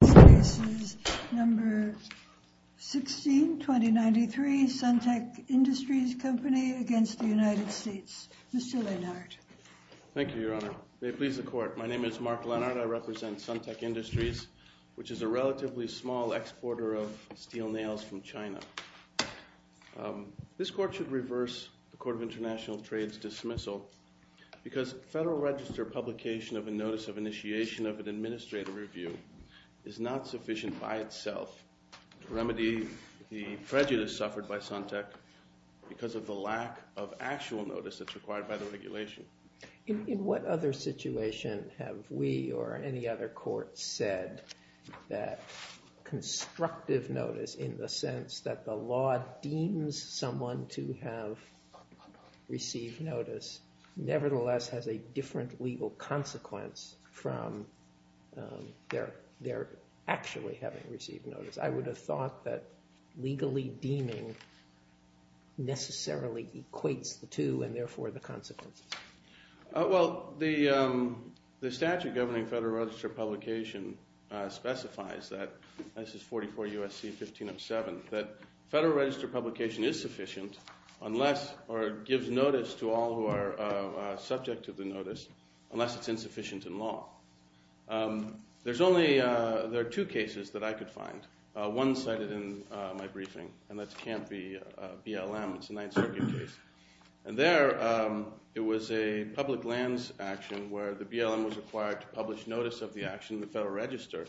This case is number 16, 2093, Suntec Industries Co., Ltd. v. United States, Mr. Lennart. Thank you, Your Honor. May it please the Court. My name is Mark Lennart. I represent Suntec Industries, which is a relatively small exporter of steel nails from China. This Court should reverse the Court of International Trade's dismissal because Federal Register publication of a Notice of Initiation of an Administrative Review is not sufficient by itself to remedy the prejudice suffered by Suntec because of the lack of actual notice that's required by the regulation. In what other situation have we or any other court said that constructive notice, in the sense that the law deems someone to have received notice, nevertheless has a different legal consequence from their actually having received notice? I would have thought that legally deeming necessarily equates the two and, therefore, the consequences. Well, the statute governing Federal Register publication specifies that, this is 44 U.S.C. 1507, that Federal Register publication is sufficient unless or gives notice to all who are subject to the notice, unless it's insufficient in law. There are two cases that I could find. One cited in my briefing, and that's Camp B, BLM. It's a Ninth Circuit case. And there, it was a public lands action where the BLM was required to publish notice of the action in the Federal Register,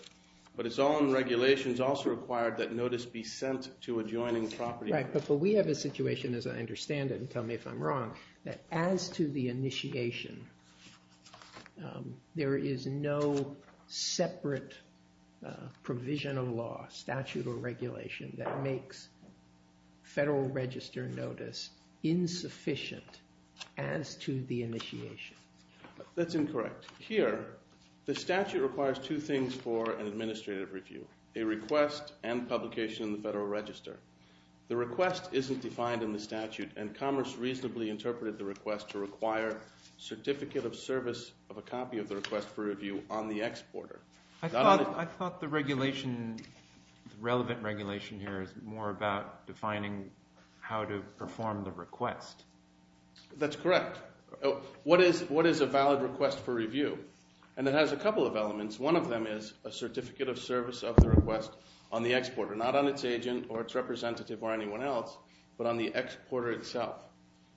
but it's all in regulations also required that notice be sent to adjoining property owners. Right, but we have a situation, as I understand it, and tell me if I'm wrong, that as to the initiation, there is no separate provision of law, statute or regulation, that makes Federal Register notice insufficient as to the initiation. That's incorrect. Here, the statute requires two things for an administrative review, a request and publication in the Federal Register. The request isn't defined in the statute, and Commerce reasonably interpreted the request to require certificate of service of a copy of the request for review on the exporter. I thought the regulation, the relevant regulation here is more about defining how to perform the request. That's correct. What is a valid request for review? And it has a couple of elements. One of them is a certificate of service of the request on the exporter, not on its agent or its representative or anyone else, but on the exporter itself.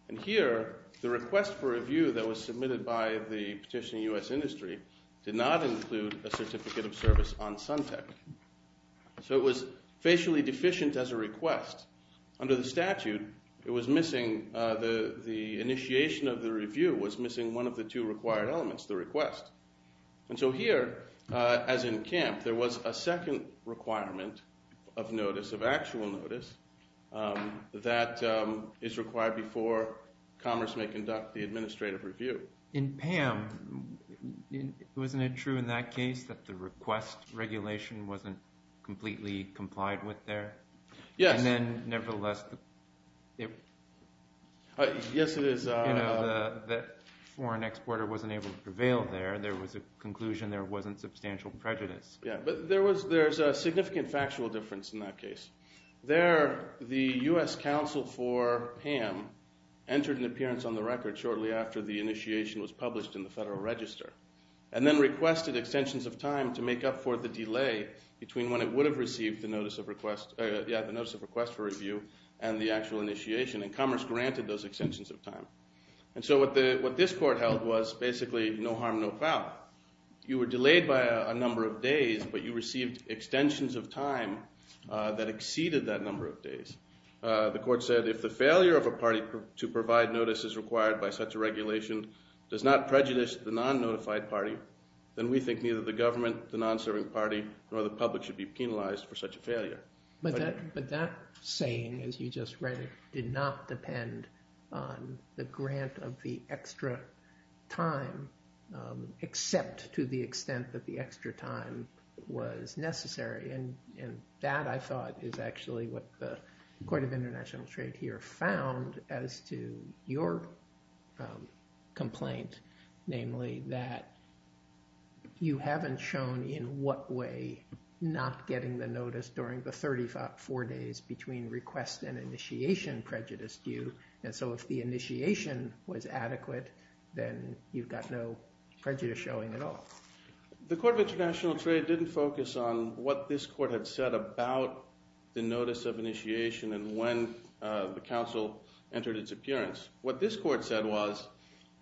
And here, the request for review that was submitted by the petitioning U.S. industry did not include a certificate of service on Suntec. So it was facially deficient as a request. Under the statute, it was missing – the initiation of the review was missing one of the two required elements, the request. And so here, as in Camp, there was a second requirement of notice, of actual notice, that is required before Commerce may conduct the administrative review. In Pam, wasn't it true in that case that the request regulation wasn't completely complied with there? And then nevertheless, the foreign exporter wasn't able to prevail there. There was a conclusion there wasn't substantial prejudice. Yeah, but there's a significant factual difference in that case. There, the U.S. counsel for Pam entered an appearance on the record shortly after the initiation was published in the Federal Register and then requested extensions of time to make up for the delay between when it would have received the notice of request for review and the actual initiation. And Commerce granted those extensions of time. And so what this court held was basically no harm, no foul. You were delayed by a number of days, but you received extensions of time that exceeded that number of days. The court said if the failure of a party to provide notice is required by such a regulation does not prejudice the non-notified party, then we think neither the government, the non-serving party, nor the public should be penalized for such a failure. But that saying, as you just read it, did not depend on the grant of the extra time, except to the extent that the extra time was necessary. And that, I thought, is actually what the Court of International Trade here found as to your complaint, namely that you haven't shown in what way not getting the notice during the 34 days between request and initiation prejudiced you. And so if the initiation was adequate, then you've got no prejudice showing at all. The Court of International Trade didn't focus on what this court had said about the notice of initiation and when the counsel entered its appearance. What this court said was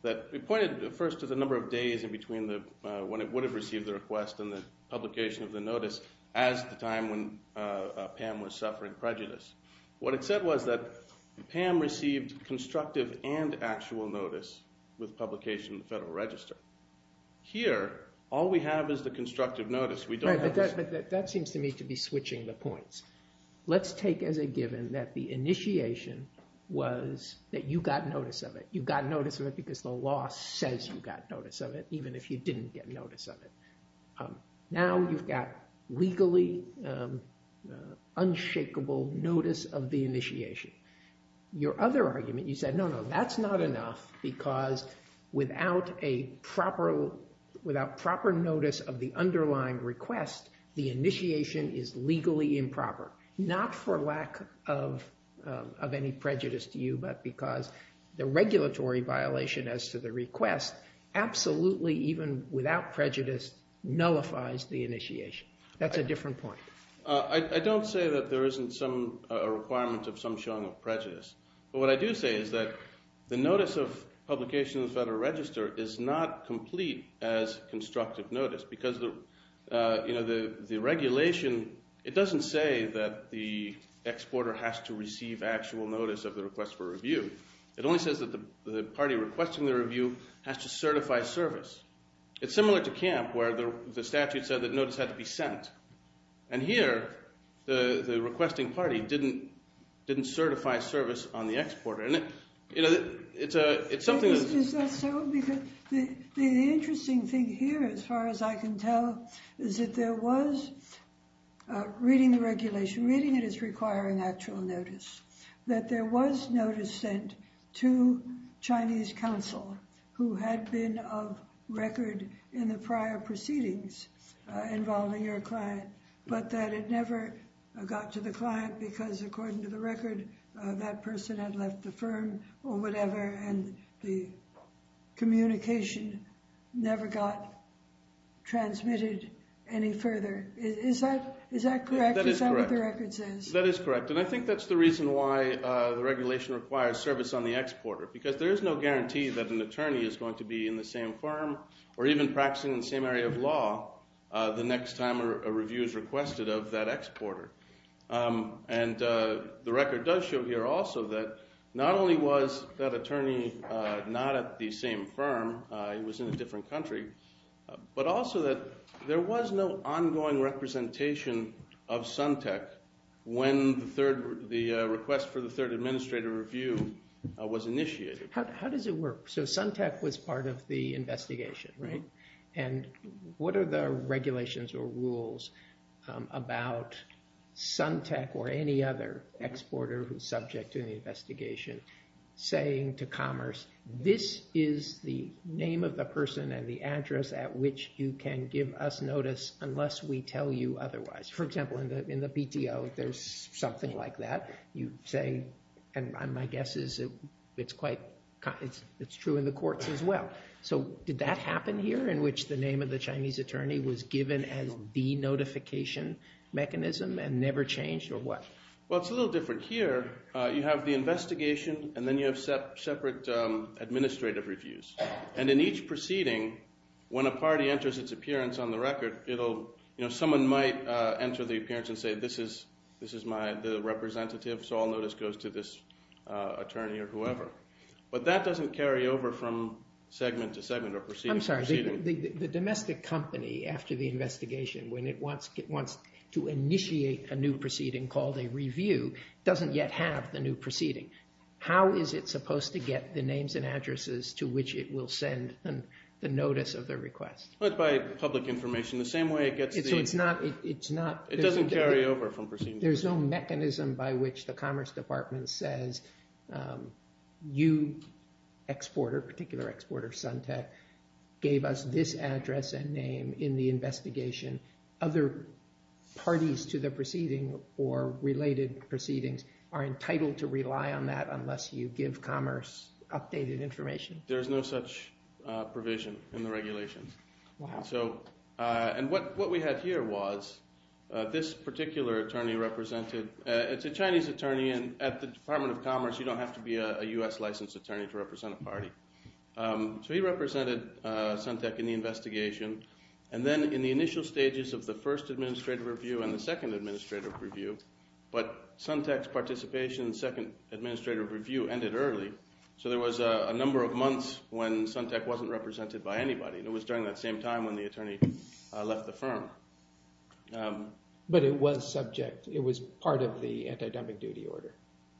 that it pointed first to the number of days in between when it would have received the request and the publication of the notice as the time when Pam was suffering prejudice. What it said was that Pam received constructive and actual notice with publication in the Federal Register. Here, all we have is the constructive notice. Right, but that seems to me to be switching the points. Let's take as a given that the initiation was that you got notice of it. You got notice of it because the law says you got notice of it, even if you didn't get notice of it. Now you've got legally unshakable notice of the initiation. Your other argument, you said, no, no, that's not enough because without proper notice of the underlying request, the initiation is legally improper. Not for lack of any prejudice to you, but because the regulatory violation as to the request absolutely, even without prejudice, nullifies the initiation. That's a different point. I don't say that there isn't some requirement of some showing of prejudice, but what I do say is that the notice of publication in the Federal Register is not complete as constructive notice because the regulation – it doesn't say that the exporter has to receive actual notice of the request for review. It only says that the party requesting the review has to certify service. It's similar to Camp where the statute said that notice had to be sent. And here, the requesting party didn't certify service on the exporter. Is that so? Because the interesting thing here, as far as I can tell, is that there was – reading the regulation, reading it is requiring actual notice – that there was notice sent to Chinese counsel who had been of record in the prior proceedings involving your client, but that it never got to the client because, according to the record, that person had left the firm or whatever, and the communication never got transmitted any further. Is that correct? Is that what the record says? That is correct, and I think that's the reason why the regulation requires service on the exporter because there is no guarantee that an attorney is going to be in the same firm or even practicing in the same area of law the next time a review is requested of that exporter. And the record does show here also that not only was that attorney not at the same firm, he was in a different country, but also that there was no ongoing representation of Suntec when the request for the third administrative review was initiated. How does it work? So Suntec was part of the investigation, right? And what are the regulations or rules about Suntec or any other exporter who's subject to the investigation saying to Commerce, this is the name of the person and the address at which you can give us notice unless we tell you otherwise? For example, in the PTO, there's something like that. You say, and my guess is it's true in the courts as well. So did that happen here in which the name of the Chinese attorney was given as the notification mechanism and never changed or what? Well, it's a little different here. You have the investigation and then you have separate administrative reviews. And in each proceeding, when a party enters its appearance on the record, someone might enter the appearance and say, this is the representative, so all notice goes to this attorney or whoever. But that doesn't carry over from segment to segment or proceeding to proceeding. The domestic company, after the investigation, when it wants to initiate a new proceeding called a review, doesn't yet have the new proceeding. How is it supposed to get the names and addresses to which it will send the notice of the request? Well, it's by public information, the same way it gets the... So it's not... It doesn't carry over from proceeding to proceeding. There's no mechanism by which the Commerce Department says, you, exporter, particular exporter, Suntech, gave us this address and name in the investigation. Other parties to the proceeding or related proceedings are entitled to rely on that unless you give Commerce updated information. There's no such provision in the regulations. And what we have here was this particular attorney represented... It's a Chinese attorney and at the Department of Commerce, you don't have to be a US licensed attorney to represent a party. So he represented Suntech in the investigation. And then in the initial stages of the first administrative review and the second administrative review, but Suntech's participation in the second administrative review ended early. So there was a number of months when Suntech wasn't represented by anybody. It was during that same time when the attorney left the firm. But it was subject. It was part of the anti-dumping duty order.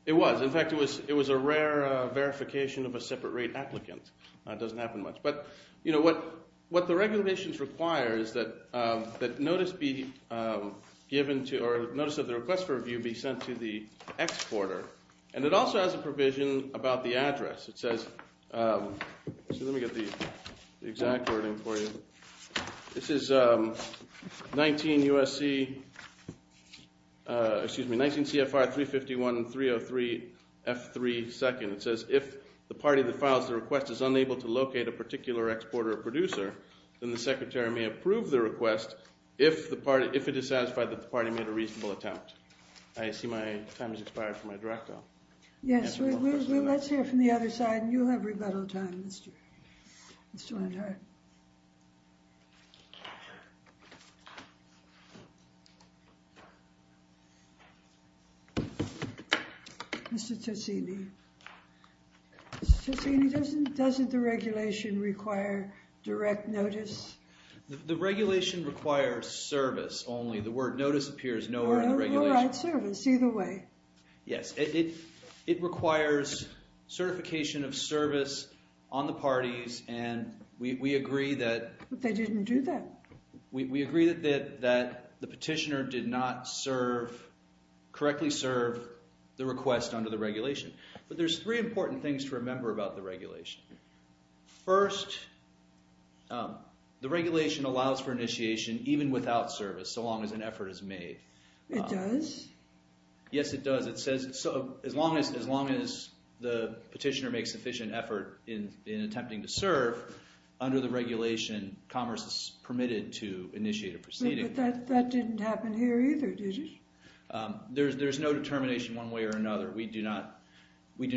It was. In fact, it was a rare verification of a separate rate applicant. It doesn't happen much. But what the regulations require is that notice be given to... or notice of the request for review be sent to the exporter. And it also has a provision about the address. It says... let me get the exact wording for you. This is 19 USC... excuse me, 19 CFR 351 and 303 F3 2nd. It says if the party that files the request is unable to locate a particular exporter or producer, then the secretary may approve the request if it is satisfied that the party made a reasonable attempt. I see my time has expired for my direct though. Yes, let's hear from the other side and you'll have rebuttal time. Mr. Tosini. Mr. Tosini, doesn't the regulation require direct notice? The regulation requires service only. The word notice appears nowhere in the regulation. We'll write service either way. Yes, it requires certification of service on the parties and we agree that... But they didn't do that. We agree that the petitioner did not serve, correctly serve, the request under the regulation. But there's three important things to remember about the regulation. First, the regulation allows for initiation even without service so long as an effort is made. It does? Yes, it does. It says as long as the petitioner makes sufficient effort in attempting to serve, under the regulation, commerce is permitted to initiate a proceeding. But that didn't happen here either, did it? There's no determination one way or another. We do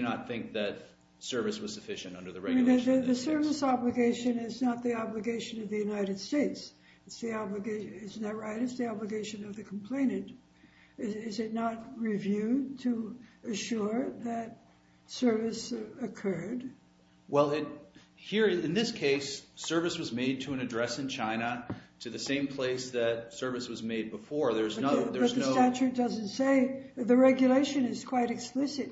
not think that service was sufficient under the regulation. The service obligation is not the obligation of the United States. Isn't that right? It's the obligation of the complainant. Is it not reviewed to assure that service occurred? Well, here in this case, service was made to an address in China to the same place that service was made before. But the statute doesn't say. The regulation is quite explicit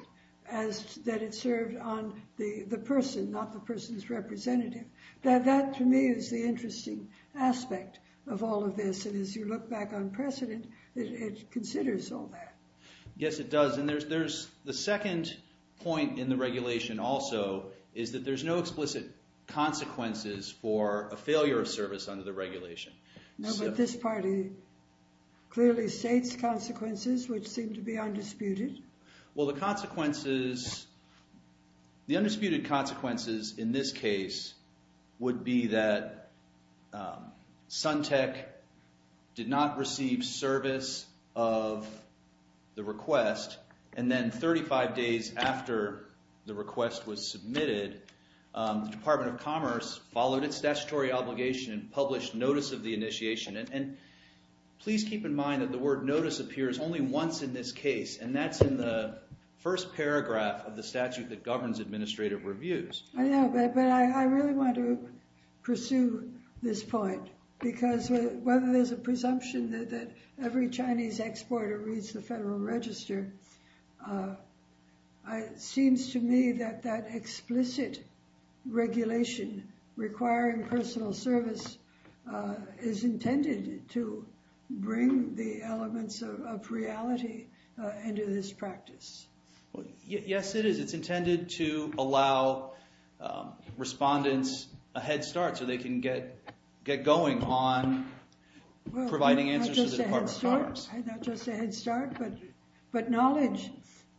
that it served on the person, not the person's representative. That, to me, is the interesting aspect of all of this. And as you look back on precedent, it considers all that. Yes, it does. And there's the second point in the regulation also is that there's no explicit consequences for a failure of service under the regulation. No, but this party clearly states consequences which seem to be undisputed. Well, the consequences, the undisputed consequences in this case would be that Suntec did not receive service of the request. And then 35 days after the request was submitted, the Department of Commerce followed its statutory obligation and published notice of the initiation. And please keep in mind that the word notice appears only once in this case. And that's in the first paragraph of the statute that governs administrative reviews. I know, but I really want to pursue this point, because whether there's a presumption that every Chinese exporter reads the Federal Register, it seems to me that that explicit regulation requiring personal service is intended to bring the elements of reality into this practice. Yes, it is. It's intended to allow respondents a head start so they can get going on providing answers to the Department of Commerce. Well, not just a head start, but knowledge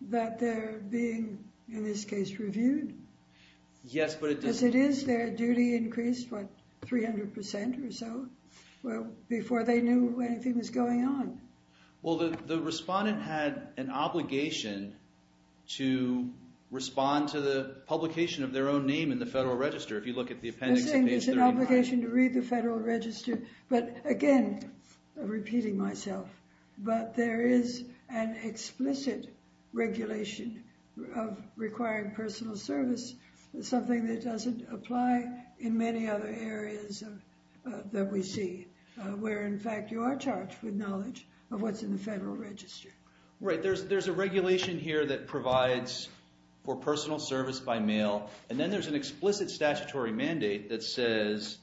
that they're being, in this case, reviewed. Yes, but it does. Because it is their duty increased, what, 300 percent or so before they knew anything was going on. Well, the respondent had an obligation to respond to the publication of their own name in the Federal Register. If you look at the appendix at page 39. They're saying it's an obligation to read the Federal Register. But again, repeating myself, but there is an explicit regulation of requiring personal service, something that doesn't apply in many other areas that we see, where, in fact, you are charged with knowledge of what's in the Federal Register. Right. There's a regulation here that provides for personal service by mail. And then there's an explicit statutory mandate that says,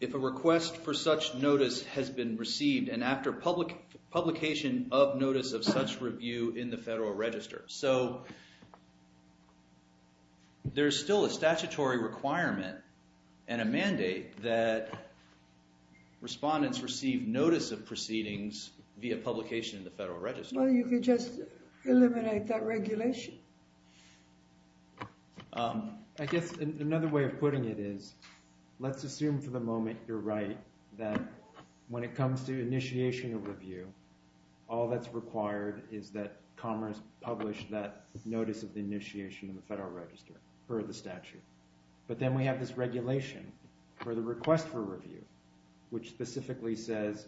if a request for such notice has been received and after publication of notice of such review in the Federal Register. So there's still a statutory requirement and a mandate that respondents receive notice of proceedings via publication in the Federal Register. Well, you could just eliminate that regulation. I guess another way of putting it is, let's assume for the moment you're right, that when it comes to initiation of review, all that's required is that Commerce publish that notice of initiation in the Federal Register for the statute. But then we have this regulation for the request for review, which specifically says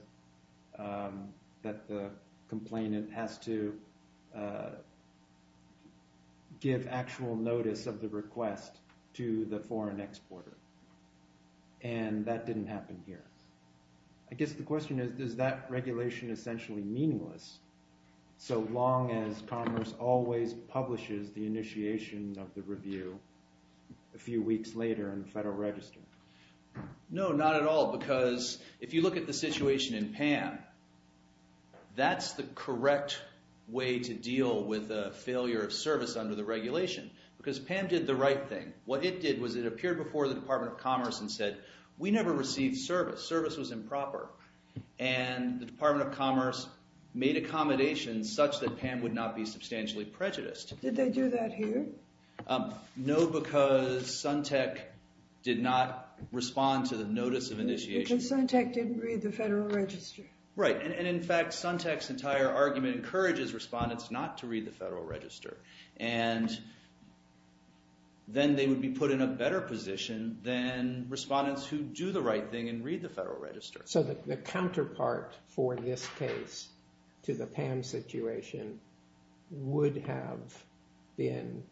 that the complainant has to give actual notice of the request to the foreign exporter. And that didn't happen here. I guess the question is, is that regulation essentially meaningless so long as Commerce always publishes the initiation of the review a few weeks later in the Federal Register? No, not at all, because if you look at the situation in PAM, that's the correct way to deal with a failure of service under the regulation, because PAM did the right thing. What it did was it appeared before the Department of Commerce and said, we never received service. Service was improper. And the Department of Commerce made accommodations such that PAM would not be substantially prejudiced. Did they do that here? No, because Suntec did not respond to the notice of initiation. Because Suntec didn't read the Federal Register. Right. And in fact, Suntec's entire argument encourages respondents not to read the Federal Register. And then they would be put in a better position than respondents who do the right thing and read the Federal Register. So the counterpart for this case to the PAM situation would have been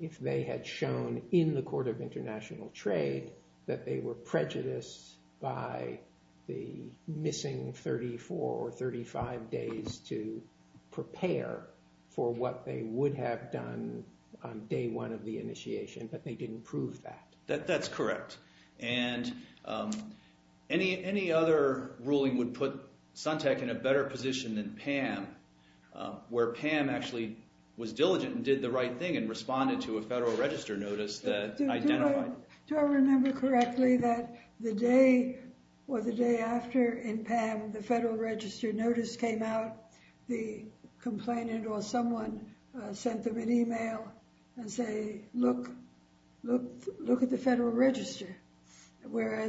if they had shown in the Court of International Trade that they were prejudiced by the missing 34 or 35 days to prepare for what they would have done on day one of the initiation, but they didn't prove that. That's correct. And any other ruling would put Suntec in a better position than PAM, where PAM actually was diligent and did the right thing and responded to a Federal Register notice that identified... Whereas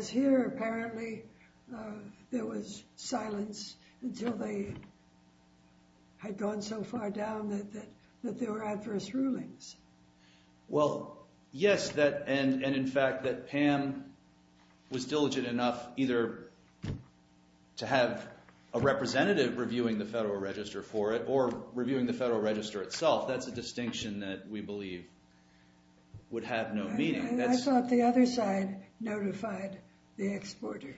here, apparently, there was silence until they had gone so far down that there were adverse rulings. Well, yes, and in fact that PAM was diligent enough either to have a representative reviewing the Federal Register for it or reviewing the Federal Register itself. That's a distinction that we believe would have no meaning. I thought the other side notified the exporter.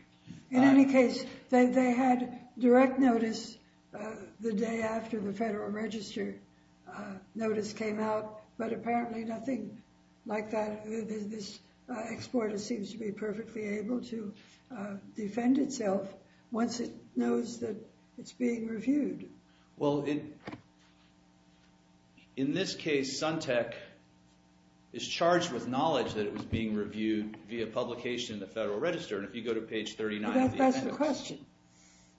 In any case, they had direct notice the day after the Federal Register notice came out, but apparently nothing like that. This exporter seems to be perfectly able to defend itself once it knows that it's being reviewed. Well, in this case, Suntec is charged with knowledge that it was being reviewed via publication in the Federal Register, and if you go to page 39... That's the question.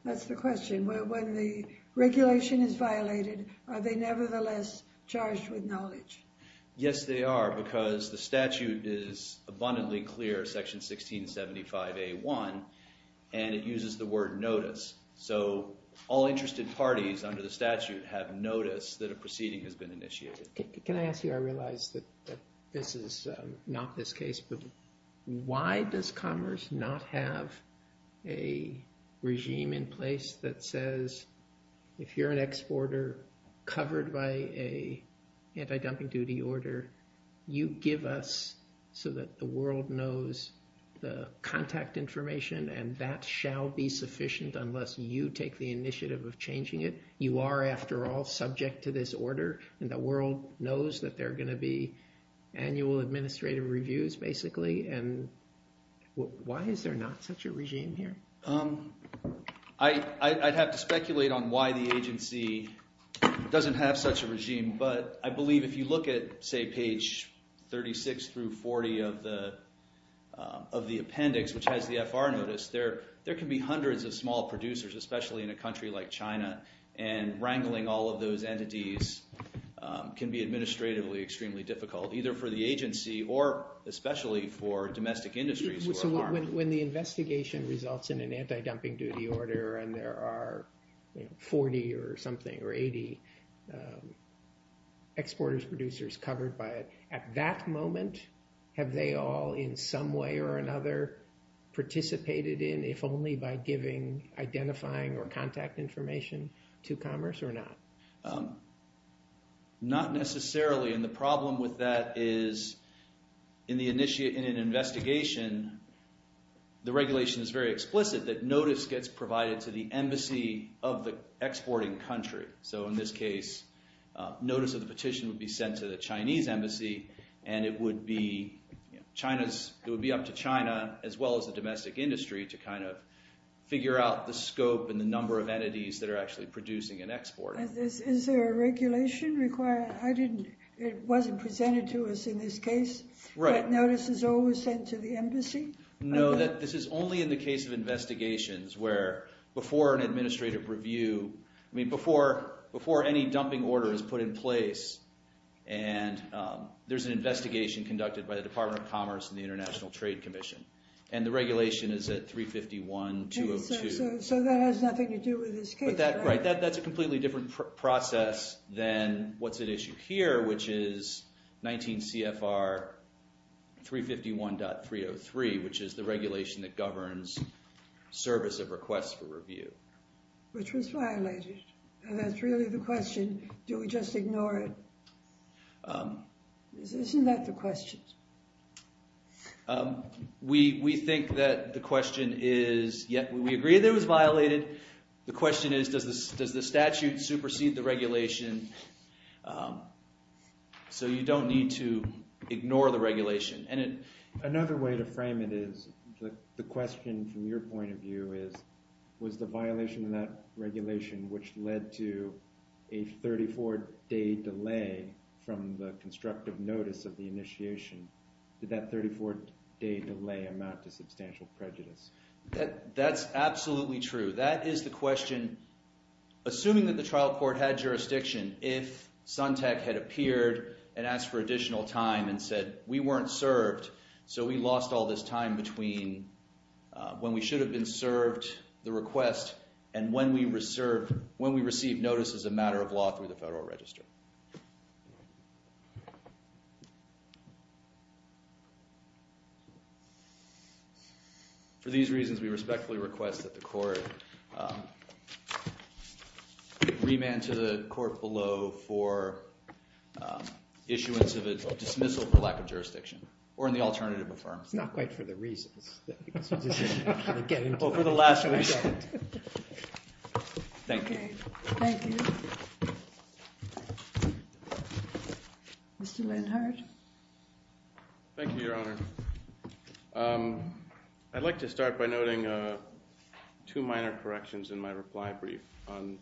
That's the question. When the regulation is violated, are they nevertheless charged with knowledge? Yes, they are, because the statute is abundantly clear, section 1675A1, and it uses the word notice. So all interested parties under the statute have notice that a proceeding has been initiated. Can I ask you, I realize that this is not this case, but why does Commerce not have a regime in place that says if you're an exporter covered by a anti-dumping duty order, you give us so that the world knows the contact information, and that shall be sufficient unless you take the initiative of changing it? You are, after all, subject to this order, and the world knows that there are going to be annual administrative reviews, basically, and why is there not such a regime here? I'd have to speculate on why the agency doesn't have such a regime, but I believe if you look at, say, page 36 through 40 of the appendix, which has the FR notice, there can be hundreds of small producers, especially in a country like China, and wrangling all of those entities can be administratively extremely difficult, either for the agency or especially for domestic industries. So when the investigation results in an anti-dumping duty order and there are 40 or something or 80 exporters, producers covered by it, at that moment, have they all in some way or another participated in, if only by giving, identifying, or contact information to Commerce or not? Not necessarily, and the problem with that is in an investigation, the regulation is very explicit that notice gets provided to the embassy of the exporting country. So in this case, notice of the petition would be sent to the Chinese embassy, and it would be up to China as well as the domestic industry to figure out the scope and the number of entities that are actually producing and exporting. Is there a regulation required? It wasn't presented to us in this case, but notice is always sent to the embassy? No, this is only in the case of investigations where before an administrative review, before any dumping order is put in place, and there's an investigation conducted by the Department of Commerce and the International Trade Commission, and the regulation is at 351.202. So that has nothing to do with this case? Right, that's a completely different process than what's at issue here, which is 19 CFR 351.303, which is the regulation that governs service of requests for review. Which was violated, and that's really the question. Do we just ignore it? Isn't that the question? We think that the question is, yes, we agree that it was violated. The question is, does the statute supersede the regulation? So you don't need to ignore the regulation. Another way to frame it is the question from your point of view is, was the violation of that regulation which led to a 34-day delay from the constructive notice of the initiation? Did that 34-day delay amount to substantial prejudice? That's absolutely true. That is the question. Assuming that the trial court had jurisdiction, if Suntec had appeared and asked for additional time and said, we weren't served, so we lost all this time between when we should have been served the request and when we received notice as a matter of law through the Federal Register. For these reasons, we respectfully request that the court remand to the court below for issuance of a dismissal for lack of jurisdiction, or in the alternative reform. It's not quite for the reasons. Over the last week. Thank you. Thank you. Mr. Lenhardt. Thank you, Your Honor. I'd like to start by noting two minor corrections in my reply brief. On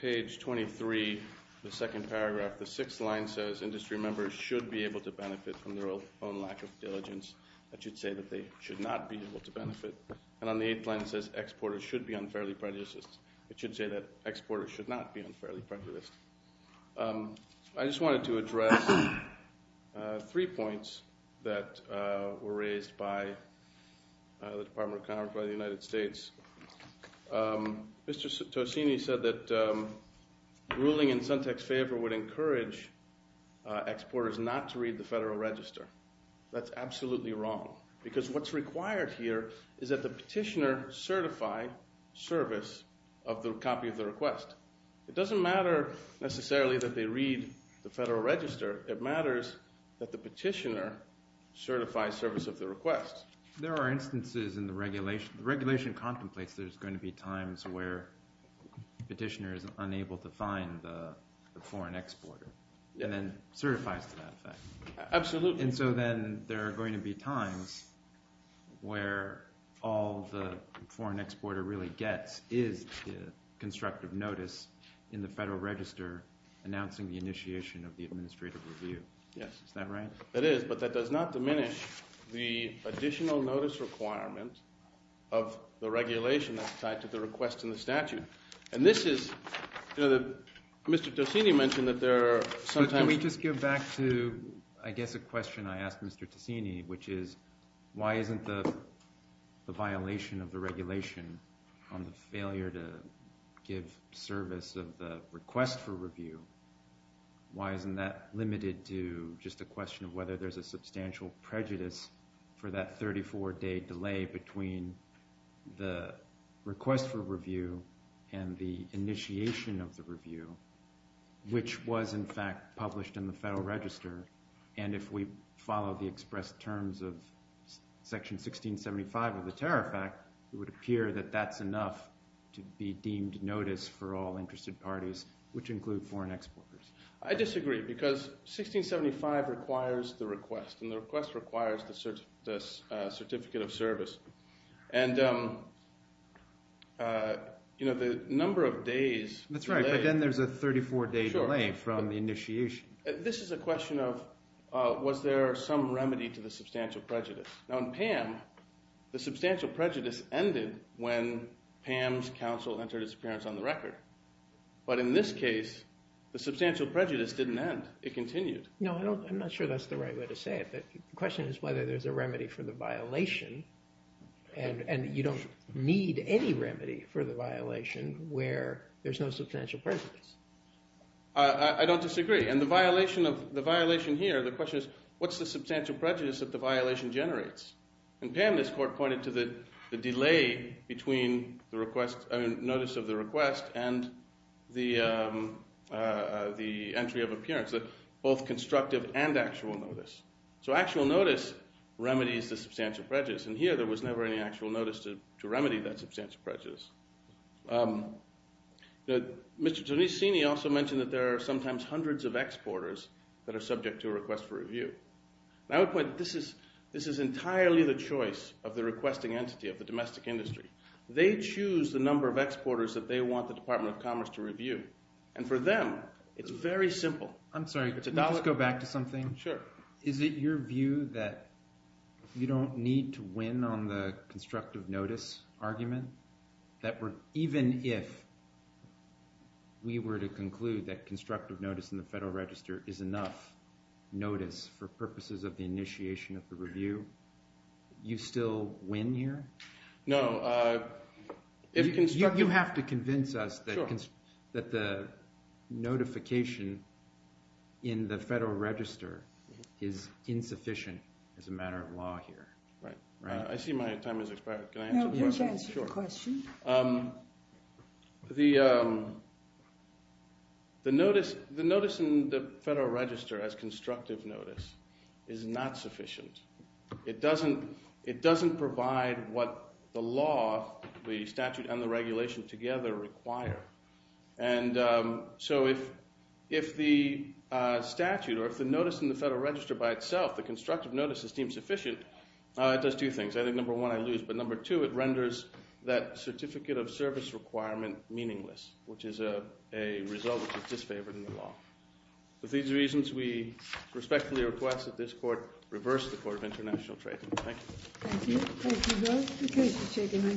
page 23, the second paragraph, the sixth line says industry members should be able to benefit from their own lack of diligence. That should say that they should not be able to benefit. And on the eighth line, it says exporters should be unfairly prejudiced. It should say that exporters should not be unfairly prejudiced. I just wanted to address three points that were raised by the Department of Commerce by the United States. Mr. Tosini said that ruling in Suntec's favor would encourage exporters not to read the Federal Register. That's absolutely wrong, because what's required here is that the petitioner certify service of the copy of the request. It doesn't matter necessarily that they read the Federal Register. It matters that the petitioner certify service of the request. There are instances in the regulation. The regulation contemplates there's going to be times where the petitioner is unable to find the foreign exporter and then certifies to that effect. Absolutely. And so then there are going to be times where all the foreign exporter really gets is constructive notice in the Federal Register announcing the initiation of the administrative review. Yes. Isn't that right? That is, but that does not diminish the additional notice requirement of the regulation that's tied to the request in the statute. And this is – Mr. Tosini mentioned that there are sometimes – Can we just go back to I guess a question I asked Mr. Tosini, which is why isn't the violation of the regulation on the failure to give service of the request for review, why isn't that limited to just a question of whether there's a substantial prejudice for that 34-day delay between the request for review and the initiation of the review, which was in fact published in the Federal Register. And if we follow the expressed terms of Section 1675 of the Tariff Act, it would appear that that's enough to be deemed notice for all interested parties, which include foreign exporters. I disagree because 1675 requires the request, and the request requires the certificate of service. And the number of days – That's right, but then there's a 34-day delay from the initiation. This is a question of was there some remedy to the substantial prejudice. Now, in PAM, the substantial prejudice ended when PAM's counsel entered its appearance on the record. But in this case, the substantial prejudice didn't end. It continued. No, I'm not sure that's the right way to say it. The question is whether there's a remedy for the violation, and you don't need any remedy for the violation where there's no substantial prejudice. I don't disagree. And the violation here, the question is what's the substantial prejudice that the violation generates? In PAM, this court pointed to the delay between the notice of the request and the entry of appearance, both constructive and actual notice. So actual notice remedies the substantial prejudice, and here there was never any actual notice to remedy that substantial prejudice. Mr. Tonissini also mentioned that there are sometimes hundreds of exporters that are subject to a request for review. And I would point out that this is entirely the choice of the requesting entity of the domestic industry. They choose the number of exporters that they want the Department of Commerce to review. And for them, it's very simple. I'm sorry, can we just go back to something? Sure. Is it your view that you don't need to win on the constructive notice argument? That even if we were to conclude that constructive notice in the Federal Register is enough notice for purposes of the initiation of the review, you still win here? No. You have to convince us that the notification in the Federal Register is insufficient as a matter of law here. I see my time has expired. Can I answer the question? The notice in the Federal Register as constructive notice is not sufficient. It doesn't provide what the law, the statute, and the regulation together require. And so if the statute or if the notice in the Federal Register by itself, the constructive notice, is deemed sufficient, it does two things. I think number one, I lose. But number two, it renders that certificate of service requirement meaningless, which is a result which is disfavored in the law. For these reasons, we respectfully request that this Court reverse the Court of International Trade. Thank you. Thank you. Thank you both.